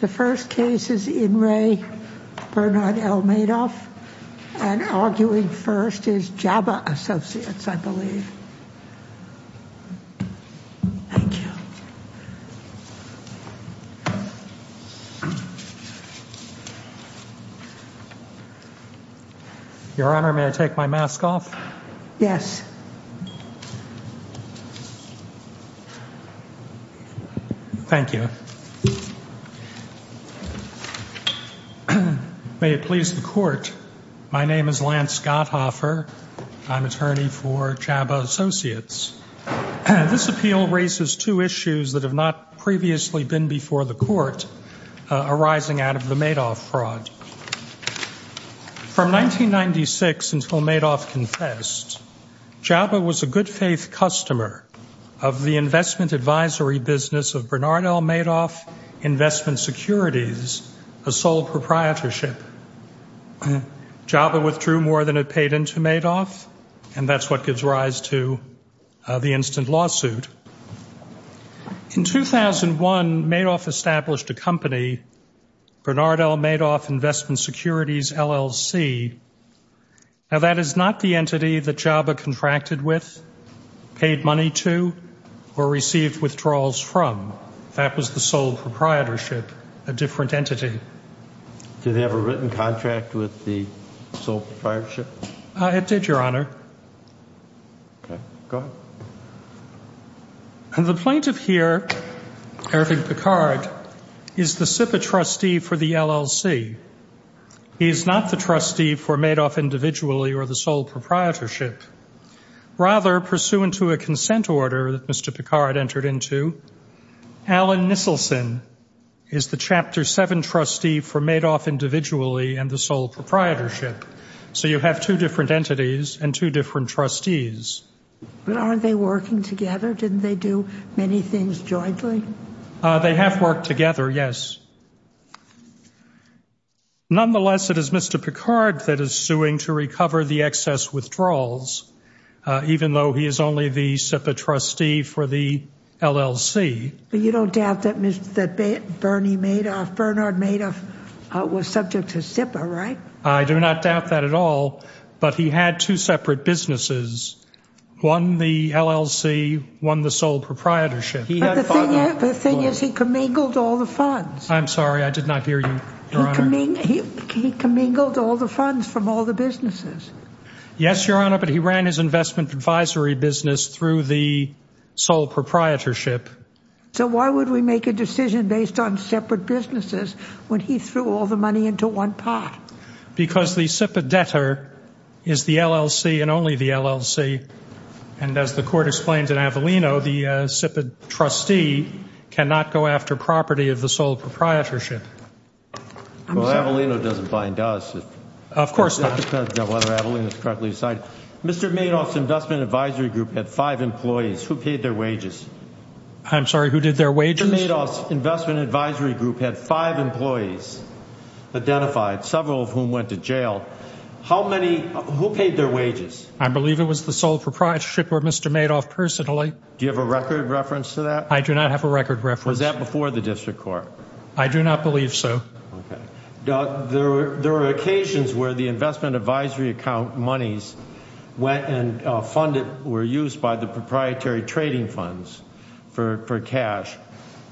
The first case is in re Bernard L. Madoff and arguing first is Jabba Associates, I believe. Thank you. Your Honor, may I take my mask off? Yes. Thank you. May it please the court, my name is Lance Gotthoffer. I'm attorney for Jabba Associates. This appeal raises two issues that have not previously been before the court arising out of the Madoff fraud. From 1996 until Madoff confessed, Jabba was a good faith customer of the investment advisory business of Bernard L. Madoff Investment Securities, a sole proprietorship. Jabba withdrew more than it paid into Madoff and that's what gives rise to the instant lawsuit. In 2001, Madoff established a company, Bernard L. Madoff Investment Securities, LLC. Now that is not the entity that Jabba contracted with, paid money to, or received withdrawals from. That was the sole proprietorship, a different entity. Did they have a written contract with the proprietorship? It did, Your Honor. Okay, go ahead. The plaintiff here, Eric Picard, is the SIPA trustee for the LLC. He is not the trustee for Madoff individually or the sole proprietorship. Rather, pursuant to a consent order that Mr. Picard entered into, Alan Nisselson is the Chapter 7 trustee for Madoff individually and the sole proprietorship. So you have two different entities and two different trustees. But aren't they working together? Didn't they do many things jointly? They have worked together, yes. Nonetheless, it is Mr. Picard that is suing to recover the excess withdrawals, even though he is only the SIPA trustee for the LLC. But you don't doubt that Bernard Madoff was subject to SIPA, right? I do not doubt that at all. But he had two separate businesses, one the LLC, one the sole proprietorship. But the thing is, he commingled all the funds. I'm sorry, I did not hear you, Your Honor. He commingled all the funds from all the businesses. Yes, Your Honor, but he ran his investment advisory business through the sole proprietorship. So why would we make a decision based on separate businesses when he threw all the money into one pot? Because the SIPA debtor is the LLC and only the LLC. And as the court explains in Avellino, the SIPA trustee cannot go after property of the sole proprietorship. Well, Avellino doesn't bind us. Of course not. The letter of Avellino is correctly cited. Mr. Madoff's investment advisory group had five employees who paid their wages. I'm sorry, who did their wages? Mr. Madoff's investment advisory group had five employees identified, several of whom went to jail. How many, who paid their wages? I believe it was the sole proprietorship or Mr. Madoff personally. Do you have a record reference to that? I do not have a record reference. Was that before the district court? I do not believe so. Okay. There were occasions where the investment advisory account monies went and funded, were used by the proprietary trading funds for cash.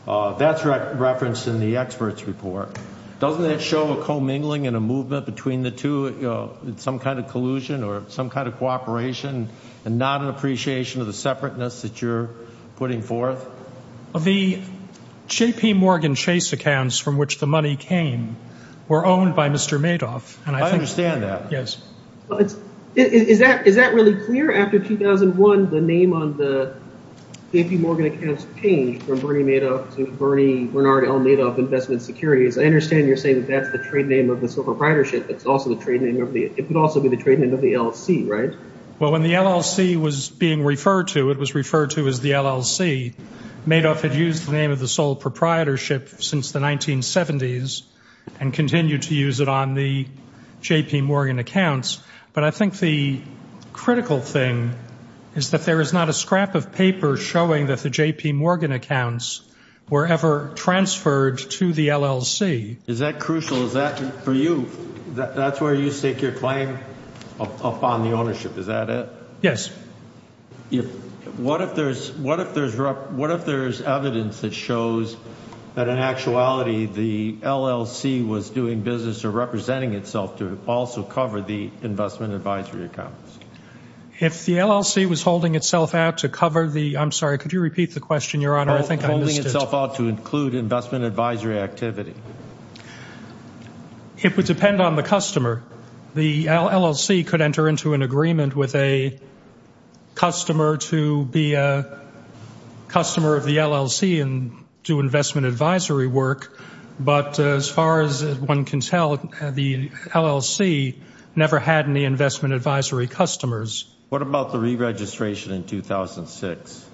That's referenced in the expert's report. Doesn't that show a co-mingling and a movement between the two, some kind of collusion or some kind of cooperation and not an appreciation of the separateness that you're putting forth? The JPMorgan Chase accounts from which the money came were owned by Mr. Madoff. I understand that. Is that really clear? After 2001, the name on the JPMorgan accounts changed from Bernie Madoff to Bernie Bernard L. Madoff Investment Securities. I understand you're saying that that's the trade name of the sole proprietorship. It could also be the trade name of the LLC, right? Well, when the LLC was being referred to, it was referred to as the LLC. Madoff had used the name of the sole proprietorship since the 1970s and continued to use it on the JPMorgan accounts. But I think the critical thing is that there is not a scrap of paper showing that the JPMorgan accounts were ever transferred to the LLC. Is that crucial? Is that, for you, that's where you stake your claim upon the ownership? Is that it? Yes. If, what if there's, what if there's, what if there's evidence that shows that in actuality, the LLC was doing business or representing itself to also cover the investment advisory accounts? If the LLC was holding itself out to cover the, I'm sorry, could you repeat the question, Your Honor? I think I missed it. Holding itself out to include investment advisory activity. It would depend on the customer. The LLC could enter into an agreement with a customer to be a customer of the LLC and do investment advisory work. But as far as one can tell, the LLC never had any investment advisory customers. What about the re-registration in 2006?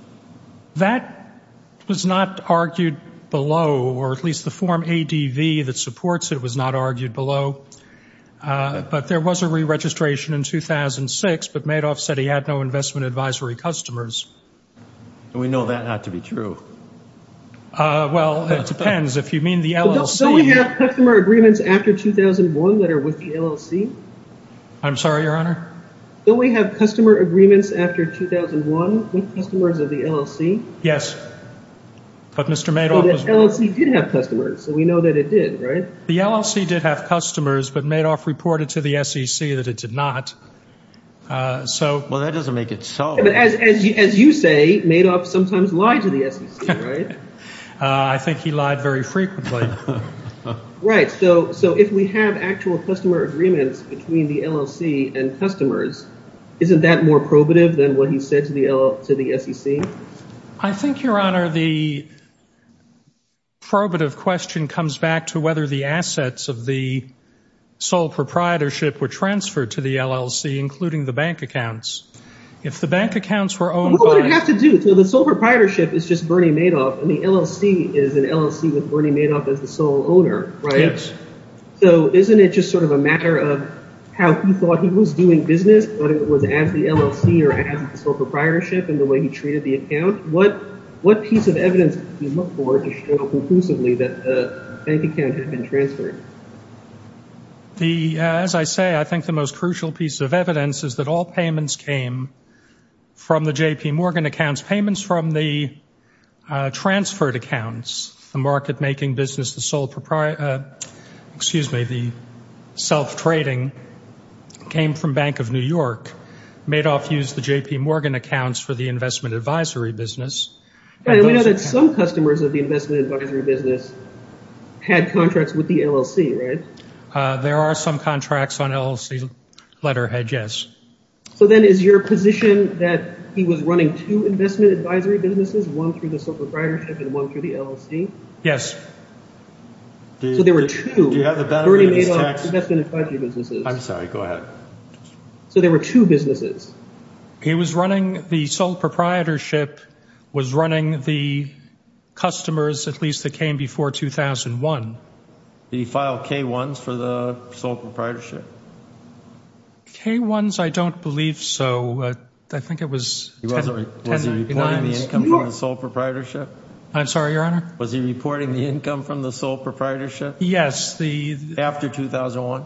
That was not argued below, or at least the form ADV that supports it was not argued below. But there was a re-registration in 2006, but Madoff said he had no investment advisory customers. And we know that not to be true. Well, it depends. If you mean the LLC- Don't we have customer agreements after 2001 that are with the LLC? I'm sorry, Your Honor? Don't we have customer agreements after 2001 with customers of the LLC? Yes. But Mr. Madoff- The LLC did have customers, so we know that it did, right? The LLC did have customers, but Madoff reported to the SEC that it did not. So- Well, that doesn't make it so. But as you say, Madoff sometimes lied to the SEC, right? I think he lied very frequently. Right. So if we have actual customer agreements between the LLC and customers, isn't that more probative than what he said to the SEC? I think, Your Honor, the probative question comes back to whether the assets of the sole proprietorship were transferred to the LLC, including the bank accounts. If the bank accounts were owned by- What would it have to do? So the sole proprietorship is just Bernie Madoff, and the LLC is an LLC with Bernie Madoff as the sole owner, right? Yes. So isn't it just sort of a matter of how he thought he was doing business, whether it was as the LLC or as the sole proprietorship, and the way he treated the account? What piece of evidence do you look for to show conclusively that the bank account had been transferred? As I say, I think the most crucial piece of evidence is that all payments came from the J.P. Morgan accounts. Payments from the transferred accounts, the market-making business, excuse me, the self-trading, came from Bank of New York. Madoff used the J.P. Morgan accounts for the investment advisory business. And we know that some customers of the investment advisory business had contracts with the LLC, right? There are some contracts on LLC letterhead, yes. So then is your position that he was running two investment advisory businesses, one through the sole proprietorship and one through the LLC? Yes. So there were two. Do you have the battery in this text? I'm sorry, go ahead. So there were two businesses. He was running the sole proprietorship, was running the customers, at least that came before 2001. Did he file K-1s for the sole proprietorship? K-1s, I don't believe so. I think it was 1099s. Was he reporting the income from the sole proprietorship? I'm sorry, Your Honor? Was he reporting the income from the sole proprietorship? Yes. After 2001?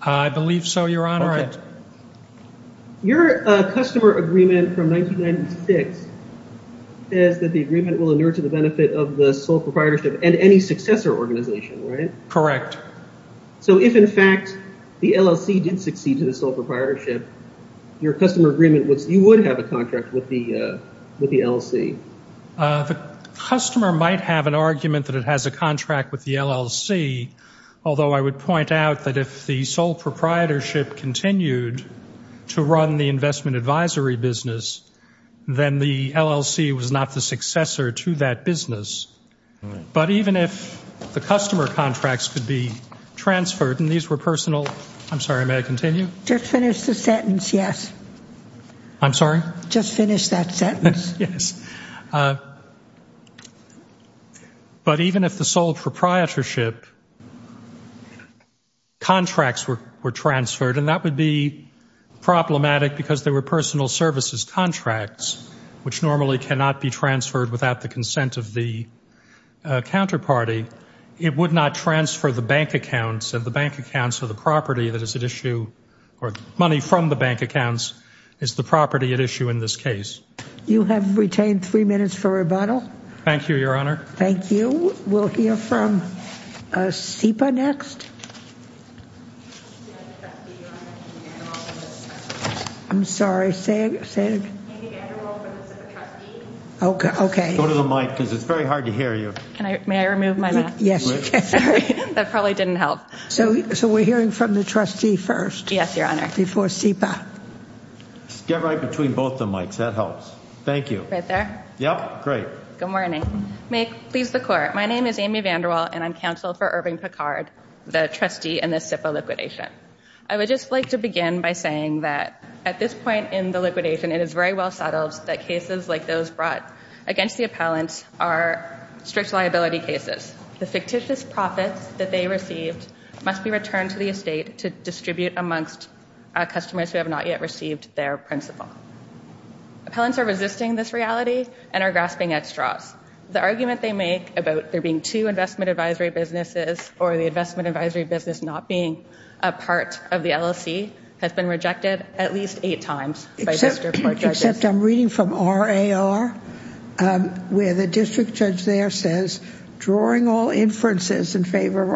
I believe so, Your Honor. Your customer agreement from 1996 says that the agreement will inure to the benefit of the sole proprietorship and any successor organization, right? Correct. So if, in fact, the LLC did succeed to the sole proprietorship, your customer agreement was you would have a contract with the LLC. The customer might have an argument that it has a contract with the LLC, although I would point out that if the sole proprietorship continued to run the investment advisory business, then the LLC was not the successor to that business. But even if the customer contracts could be transferred, and these were personal, I'm sorry, may I continue? Just finish the sentence, yes. I'm sorry? Just finish that sentence. Yes. But even if the sole proprietorship contracts were transferred, and that would be problematic because they were personal services contracts, which normally cannot be transferred without the consent of the counterparty, it would not transfer the bank accounts, and the bank accounts are the property that is at issue, or money from the bank accounts is the property at issue in this case. You have retained three minutes for rebuttal. Thank you, Your Honor. Thank you. We'll hear from SIPA next. I'm sorry, say it again. Okay. Go to the mic because it's very hard to hear you. May I remove my mask? Yes, you can. That probably didn't help. So we're hearing from the trustee first? Yes, Your Honor. Before SIPA. Get right between both the mics. That helps. Thank you. Right there? Yep. Great. Good morning. May it please the Court. My name is Amy VanderWaal, and I'm counsel for Irving Picard, the trustee in this SIPA liquidation. I would just like to begin by saying that at this point in the liquidation, it is very well settled that cases like those brought against the appellants are strict liability cases. The fictitious profits that they received must be returned to the estate to distribute amongst customers who have not yet received their principal. Appellants are resisting this reality and are grasping at straws. The argument they make about there being two investment advisory businesses or the investment advisory business not being a part of the LLC has been rejected at least eight times. Except I'm reading from RAR where the district judge there says, Drawing all inferences in favor of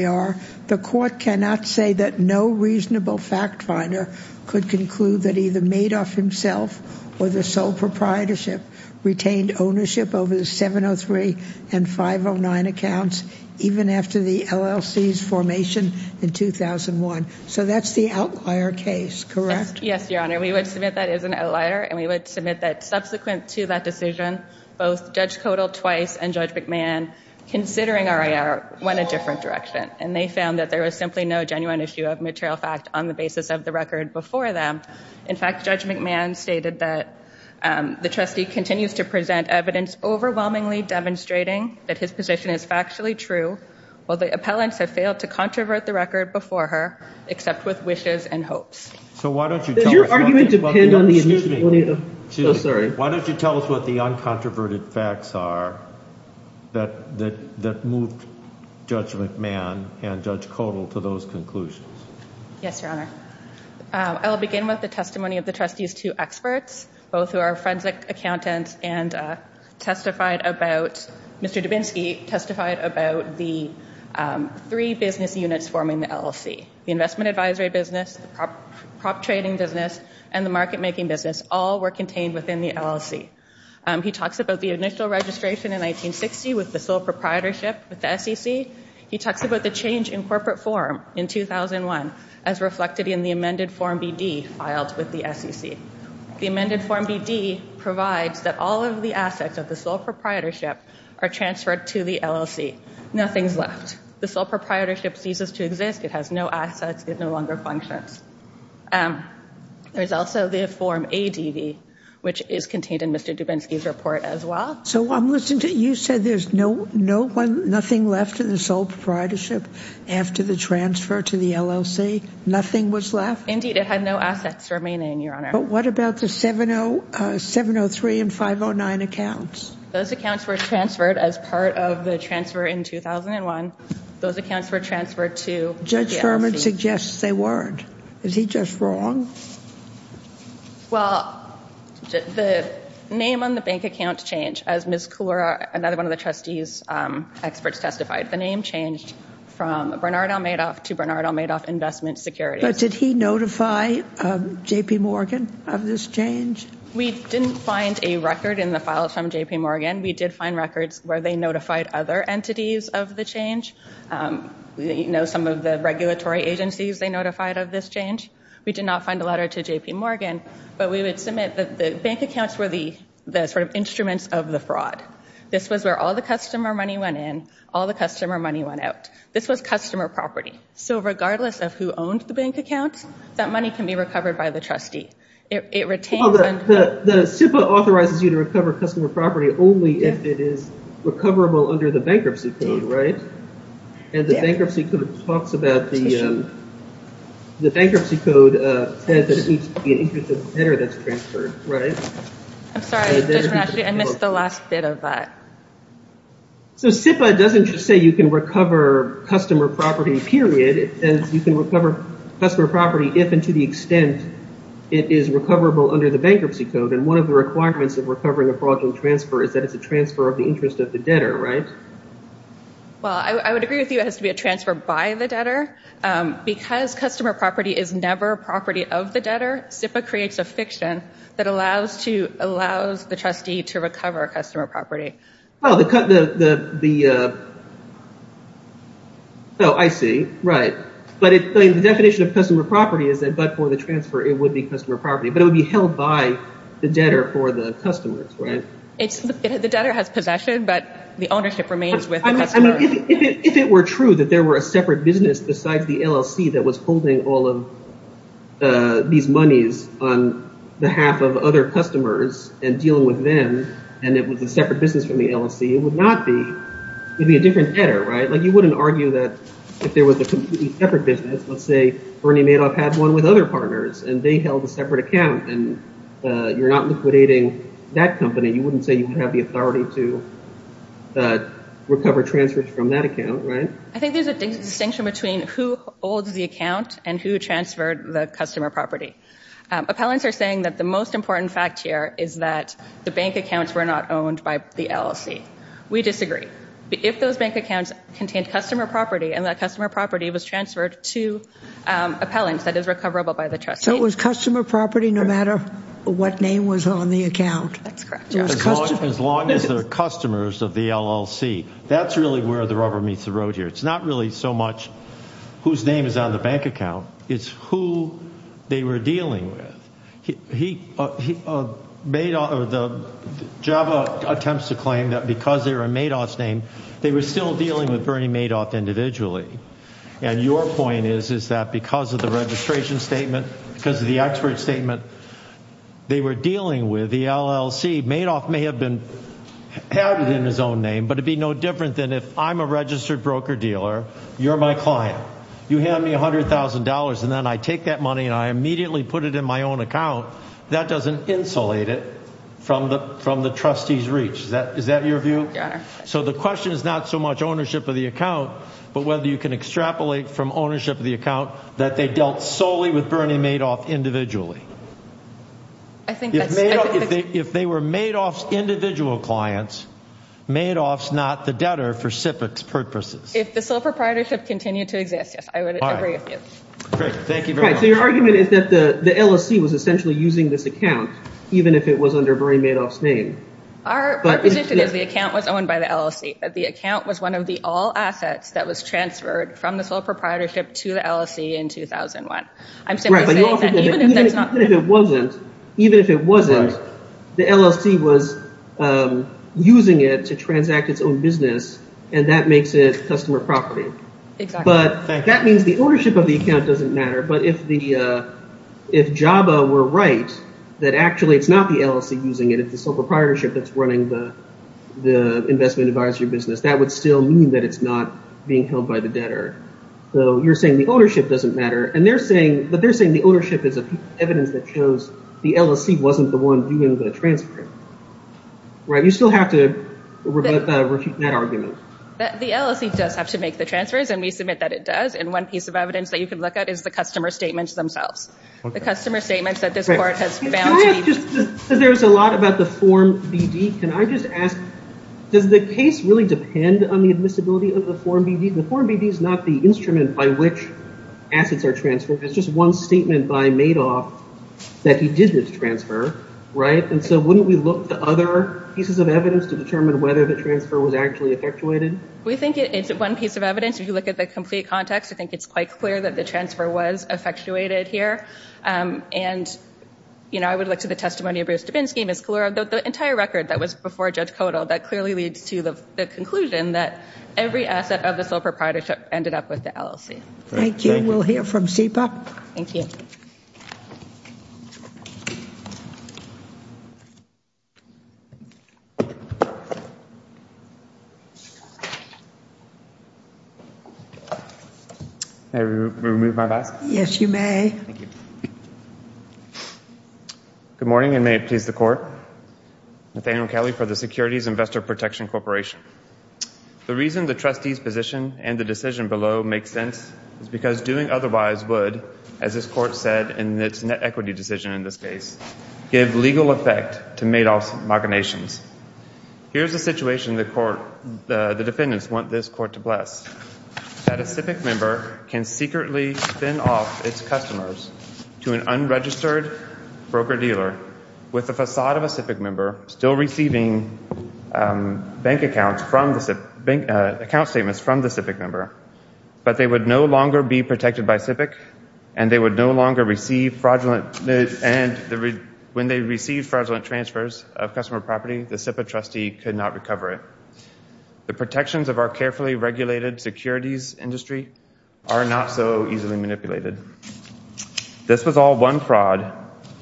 RAR, the court cannot say that no reasonable fact finder could conclude that either Madoff himself or the sole proprietorship retained ownership over the 703 and 509 accounts even after the LLC's formation in 2001. So that's the outlier case, correct? Yes, Your Honor. We would submit that is an outlier, and we would submit that subsequent to that decision, both Judge Kodal twice and Judge McMahon, considering RAR, went a different direction. And they found that there was simply no genuine issue of material fact on the basis of the record before them. In fact, Judge McMahon stated that the trustee continues to present evidence overwhelmingly demonstrating that his position is factually true while the appellants have failed to controvert the record before her, except with wishes and hopes. So why don't you tell us... Does your argument depend on the... Excuse me. So sorry. Why don't you tell us what the uncontroverted facts are that moved Judge McMahon and Judge Kodal to those conclusions? Yes, Your Honor. I'll begin with the testimony of the trustee's two experts, both who are forensic accountants and testified about... Mr. Dubinsky testified about the three business units forming the LLC, the investment advisory business, the prop trading business, and the market making business. All were contained within the LLC. He talks about the initial registration in 1960 with the sole proprietorship with the SEC. He talks about the change in corporate form in 2001 as reflected in the amended form BD filed with the SEC. The amended form BD provides that all of the assets of the sole proprietorship are transferred to the LLC. Nothing's left. The sole proprietorship ceases to exist. It has no assets. It no longer functions. Um, there's also the form ADV, which is contained in Mr. Dubinsky's report as well. So I'm listening to... You said there's no one, nothing left in the sole proprietorship after the transfer to the LLC? Nothing was left? Indeed, it had no assets remaining, Your Honor. But what about the 703 and 509 accounts? Those accounts were transferred as part of the transfer in 2001. Those accounts were transferred to the LLC. Suggests they weren't. Is he just wrong? Well, the name on the bank account changed as Ms. Koura, another one of the trustee's experts testified. The name changed from Bernard Almeidoff to Bernard Almeidoff Investment Securities. But did he notify JPMorgan of this change? We didn't find a record in the files from JPMorgan. We did find records where they notified other entities of the change. You know, some of the regulatory agencies, they notified of this change. We did not find a letter to JPMorgan, but we would submit that the bank accounts were the sort of instruments of the fraud. This was where all the customer money went in, all the customer money went out. This was customer property. So regardless of who owned the bank accounts, that money can be recovered by the trustee. The SIPA authorizes you to recover customer property only if it is recoverable under the bankruptcy code, right? And the bankruptcy code talks about the... The bankruptcy code says that it needs to be an interest of the debtor that's transferred, right? I'm sorry, I missed the last bit of that. So SIPA doesn't just say you can recover customer property, period. It says you can recover customer property if and to the extent it is recoverable under the bankruptcy code. And one of the requirements of recovering a fraudulent transfer is that it's a transfer of the interest of the debtor, right? Well, I would agree with you. It has to be a transfer by the debtor. Because customer property is never property of the debtor, SIPA creates a fiction that allows the trustee to recover customer property. Oh, the... Oh, I see, right. But the definition of customer property is that but for the transfer, it would be customer property, but it would be held by the debtor for the customers, right? The debtor has possession, but the ownership remains with the customer. If it were true that there were a separate business besides the LLC that was holding all of these monies on behalf of other customers and dealing with them, and it was a separate business from the LLC, it would not be... It'd be a different debtor, right? You wouldn't argue that if there was a completely separate business, let's say Bernie Madoff had one with other partners and they held a separate account and you're not liquidating that company, you wouldn't say you would have the authority to recover transfers from that account, right? I think there's a distinction between who holds the account and who transferred the customer property. Appellants are saying that the most important fact here is that the bank accounts were not owned by the LLC. We disagree. If those bank accounts contained customer property and that customer property was transferred to appellants that is recoverable by the trustee... So it was customer property no matter what name was on the account. That's correct, yeah. As long as they're customers of the LLC, that's really where the rubber meets the road here. It's not really so much whose name is on the bank account, it's who they were dealing with. Java attempts to claim that because they were in Madoff's name, they were still dealing with Bernie Madoff individually. And your point is that because of the registration statement, because of the expert statement, they were dealing with the LLC. Madoff may have been added in his own name, but it'd be no different than if I'm a registered broker dealer, you're my client, you hand me $100,000 and then I take that money and I immediately put it in my own account. That doesn't insulate it from the trustee's reach. Is that your view? So the question is not so much ownership of the account, but whether you can extrapolate from ownership of the account that they dealt solely with Bernie Madoff individually. I think that's... If they were Madoff's individual clients, Madoff's not the debtor for SIPC's purposes. If the sole proprietorship continued to exist, yes, I would agree with you. Great, thank you very much. So your argument is that the LLC was essentially using this account, even if it was under Bernie Madoff's name. Our position is the account was owned by the LLC. The account was one of the all assets that was transferred from the sole proprietorship to the LLC in 2001. I'm simply saying that even if that's not... Even if it wasn't, the LLC was using it to transact its own business and that makes it customer property. But that means the ownership of the account doesn't matter. But if JABA were right, that actually it's not the LLC using it. It's the sole proprietorship that's running the investment advisory business. That would still mean that it's not being held by the debtor. So you're saying the ownership doesn't matter. But they're saying the ownership is evidence that shows the LLC wasn't the one doing the transfer, right? You still have to refute that argument. The LLC does have to make the transfers and we submit that it does. And one piece of evidence that you can look at is the customer statements themselves. The customer statements that this court has found... There's a lot about the Form BD. Can I just ask, does the case really depend on the admissibility of the Form BD? The Form BD is not the instrument by which assets are transferred. It's just one statement by Madoff that he did this transfer, right? And so wouldn't we look to other pieces of evidence to determine whether the transfer was actually effectuated? We think it's one piece of evidence. If you look at the complete context, I think it's quite clear that the transfer was effectuated here. And, you know, I would look to the testimony of Bruce Dubin's scheme. It's clear that the entire record that was before Judge Kodal that clearly leads to the conclusion that every asset of the sole proprietorship ended up with the LLC. Thank you. We'll hear from SIPA. Thank you. May I remove my mask? Yes, you may. Good morning and may it please the court. Nathaniel Kelly for the Securities Investor Protection Corporation. The reason the trustee's position and the decision below makes sense is because doing otherwise would, as this court said in its net equity decision in this case, give legal effect to Madoff's machinations. Here's a situation the court, the defendants want this court to bless. That a SIPA member can secretly spin off its customers to an unregistered broker-dealer with the facade of a SIPA member still receiving bank accounts from the SIPA, account statements from the SIPA member, but they would no longer be protected by SIPA and they would no longer receive fraudulent, and when they receive fraudulent transfers of customer property, the SIPA trustee could not recover it. The protections of our carefully regulated securities industry are not so easily manipulated. This was all one fraud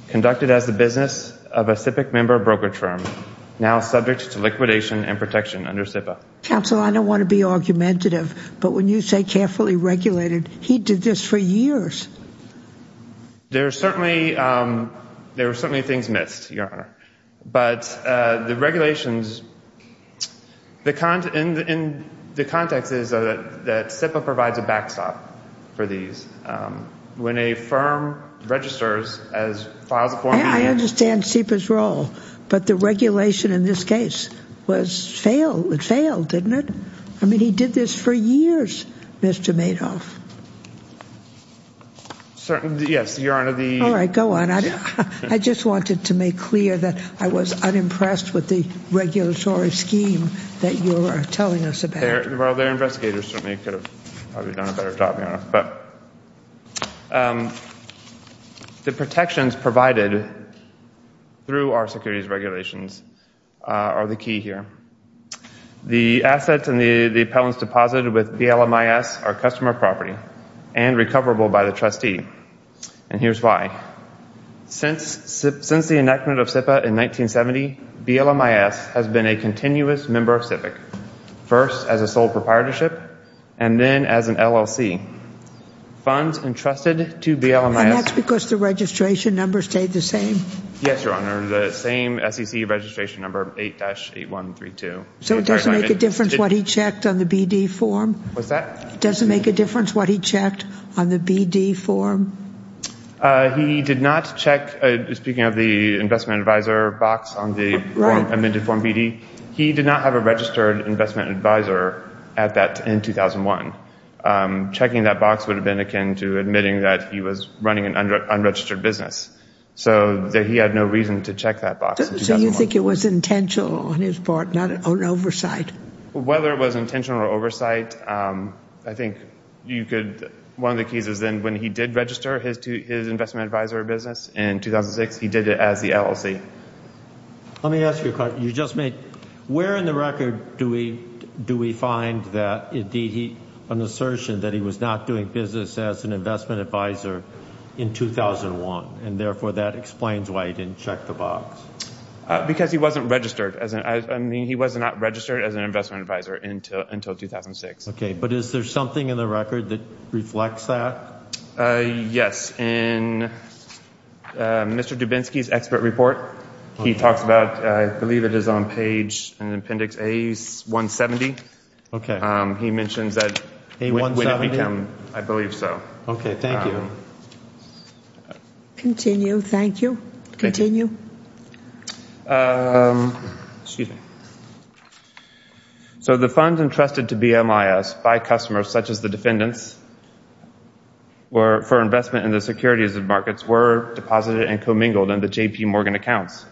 conducted as the business of a SIPA member broker term, now subject to liquidation and protection under SIPA. Counsel, I don't want to be argumentative, but when you say carefully regulated, he did this for years. There are certainly, there are certainly things missed, Your Honor, but the regulations, the, in the context is that SIPA provides a backstop for these. When a firm registers as files a form... I understand SIPA's role, but the regulation in this case was failed. It failed, didn't it? I mean, he did this for years, Mr. Madoff. Yes, Your Honor, the... All right, go on. I just wanted to make clear that I was unimpressed with the regulatory scheme that you are telling us about. Their investigators certainly could have probably done a better job, Your Honor, but the protections provided through our securities regulations are the key here. The assets and the appellants deposited with BLMIS are customer property and recoverable by the trustee, and here's why. Since the enactment of SIPA in 1970, BLMIS has been a continuous member of SIPIC, first as a sole proprietorship and then as an LLC. Funds entrusted to BLMIS... And that's because the registration number stayed the same? Yes, Your Honor, the same SEC registration number, 8-8132. So it doesn't make a difference what he checked on the BD form? What's that? Does it make a difference what he checked on the BD form? He did not check... Speaking of the investment advisor box on the form, amended form BD, he did not have a registered investment advisor at that in 2001. Checking that box would have been akin to admitting that he was running an unregistered business. So he had no reason to check that box. So you think it was intentional on his part, not an oversight? Whether it was intentional or oversight, I think you could... One of the keys is then when he did register his investment advisor business in 2006, Let me ask you a question. Where in the record do we find an assertion that he was not doing business as an investment advisor in 2001? And therefore, that explains why he didn't check the box. Because he wasn't registered as an... I mean, he was not registered as an investment advisor until 2006. Okay, but is there something in the record that reflects that? Yes, in Mr. Dubinsky's expert report, he talks about, I believe it is on page and appendix A170. He mentions that... A170? I believe so. Okay, thank you. Continue, thank you. Continue. So the funds entrusted to BMIS by customers such as the defendants for investment in the securities markets were deposited and commingled in the JPMorgan accounts.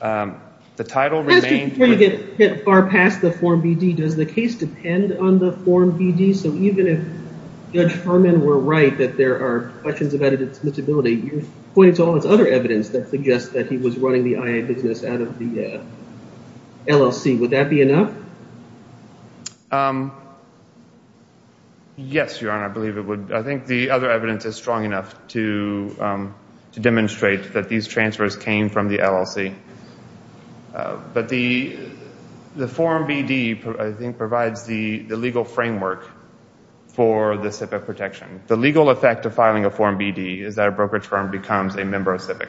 The title remained... Before you get far past the Form BD, does the case depend on the Form BD? So even if Judge Harmon were right that there are questions about its admissibility, you pointed to all this other evidence that suggests that he was running the IA business out of the LLC. Would that be enough? Yes, Your Honor, I believe it would. I think the other evidence is strong enough to demonstrate that these transfers came from the LLC. But the Form BD, I think, provides the legal framework for the CIVIC protection. The legal effect of filing a Form BD is that a brokerage firm becomes a member of CIVIC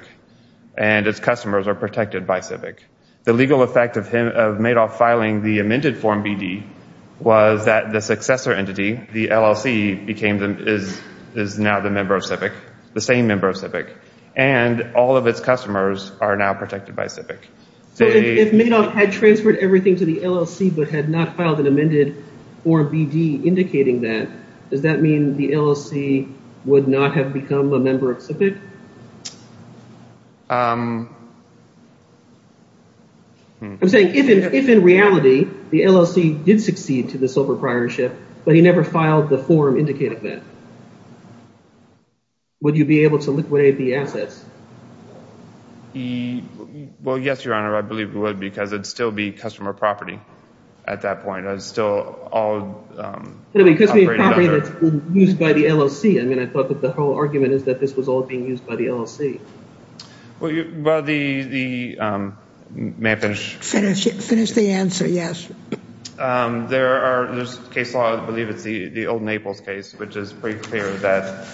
and its customers are protected by CIVIC. The legal effect of Madoff filing the amended Form BD was that the successor entity, the LLC, is now the member of CIVIC, the same member of CIVIC. And all of its customers are now protected by CIVIC. If Madoff had transferred everything to the LLC but had not filed an amended Form BD indicating that, does that mean the LLC would not have become a member of CIVIC? I'm saying if in reality the LLC did succeed to the sole proprietorship, but he never filed the form indicating that, would you be able to liquidate the assets? Well, yes, Your Honor, I believe it would because it'd still be customer property at that point. It's still all operated under... Because it's property that's been used by the LLC. I mean, I thought that the whole argument is that this was all being used by the LLC. Well, the... May I finish? Finish the answer, yes. There's a case law, I believe it's the old Naples case, which is pretty clear that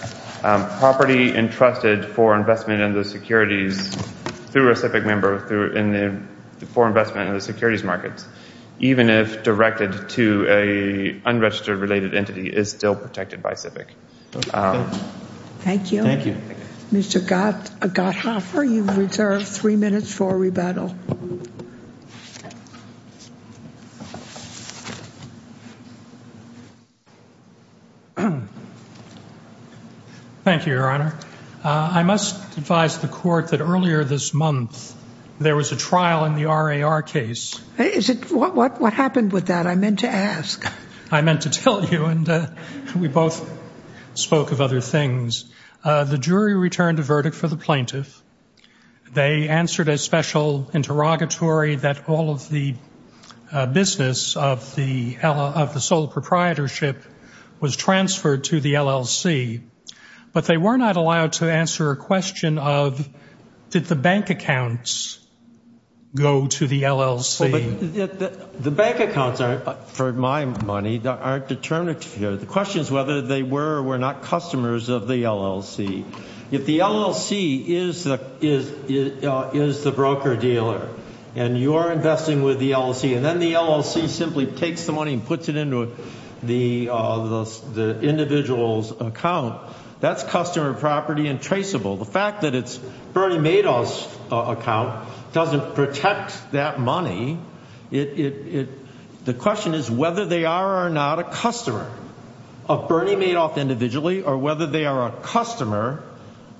property entrusted for investment in the securities through a CIVIC member for investment in the securities markets, even if directed to an unregistered related entity, is still protected by CIVIC. Thank you. Thank you. Mr. Gotthoffer, you've reserved three minutes for rebuttal. Thank you, Your Honor. I must advise the court that earlier this month, there was a trial in the RAR case. What happened with that? I meant to ask. I meant to tell you, and we both spoke of other things. The jury returned a verdict for the plaintiff. They answered a special interrogatory that all of the business of the sole proprietorship was transferred to the LLC. But they were not allowed to answer a question of, did the bank accounts go to the LLC? The bank accounts, for my money, aren't determined here. The question is whether they were or were not customers of the LLC. If the LLC is the broker-dealer, and you're investing with the LLC, and then the LLC simply takes the money and puts it into the individual's account, that's customer property and traceable. The fact that it's Bernie Madoff's account doesn't protect that money. The question is whether they are or are not a customer of Bernie Madoff individually, or whether they are a customer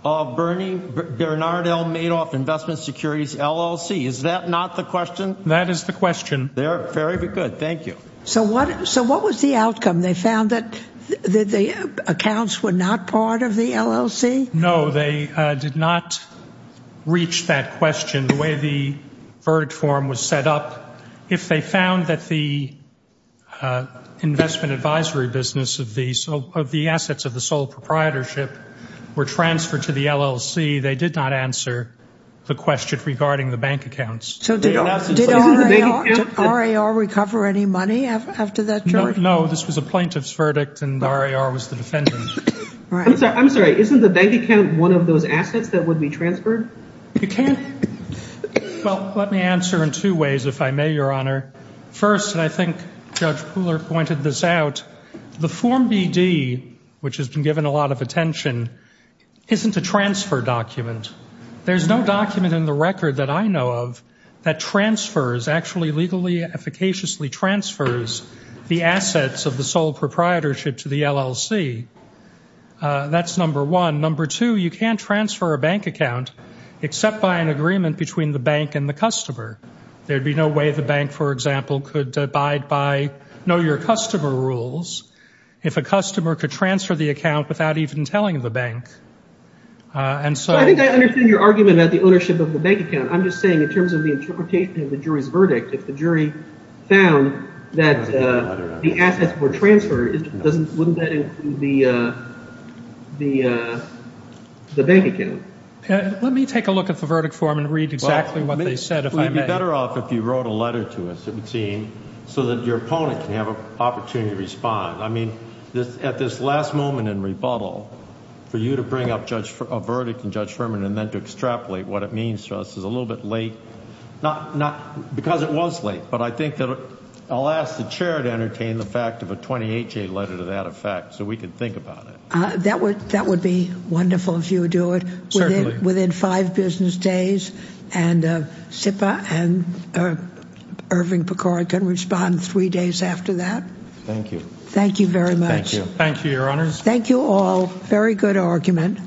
of Bernard L. Madoff Investment Securities LLC. Is that not the question? That is the question. They're very good. Thank you. So what was the outcome? They found that the accounts were not part of the LLC? No, they did not reach that question, the way the verdict form was set up. If they found that the investment advisory business of the assets of the sole proprietorship were transferred to the LLC, they did not answer the question regarding the bank accounts. So did RAR recover any money after that jury? No, this was a plaintiff's verdict, and RAR was the defendant. I'm sorry. Isn't the bank account one of those assets that would be transferred? You can't. Well, let me answer in two ways, if I may, Your Honor. First, and I think Judge Pooler pointed this out, the Form BD, which has been given a lot of attention, isn't a transfer document. There's no document in the record that I know of that transfers, actually legally, efficaciously transfers the assets of the sole proprietorship to the LLC. That's number one. Number two, you can't transfer a bank account except by an agreement between the bank and the customer. There'd be no way the bank, for example, could abide by know-your-customer rules if a customer could transfer the account without even telling the bank. And so I think I understand your argument about the ownership of the bank account. I'm just saying in terms of the interpretation of the jury's verdict, if the jury found that the assets were transferred, wouldn't that include the bank account? Let me take a look at the verdict form and read exactly what they said, if I may. We'd be better off if you wrote a letter to us, it would seem, so that your opponent can have an opportunity to respond. I mean, at this last moment in rebuttal, for you to bring up a verdict in Judge Furman and then to extrapolate what it means to us is a little bit late, because it was late. But I think that I'll ask the chair to entertain the fact of a 28-J letter to that effect, so we can think about it. That would be wonderful if you would do it within five business days, and SIPA and Irving Pecora can respond three days after that. Thank you. Thank you very much. Thank you, Your Honors. Thank you all. Very good argument.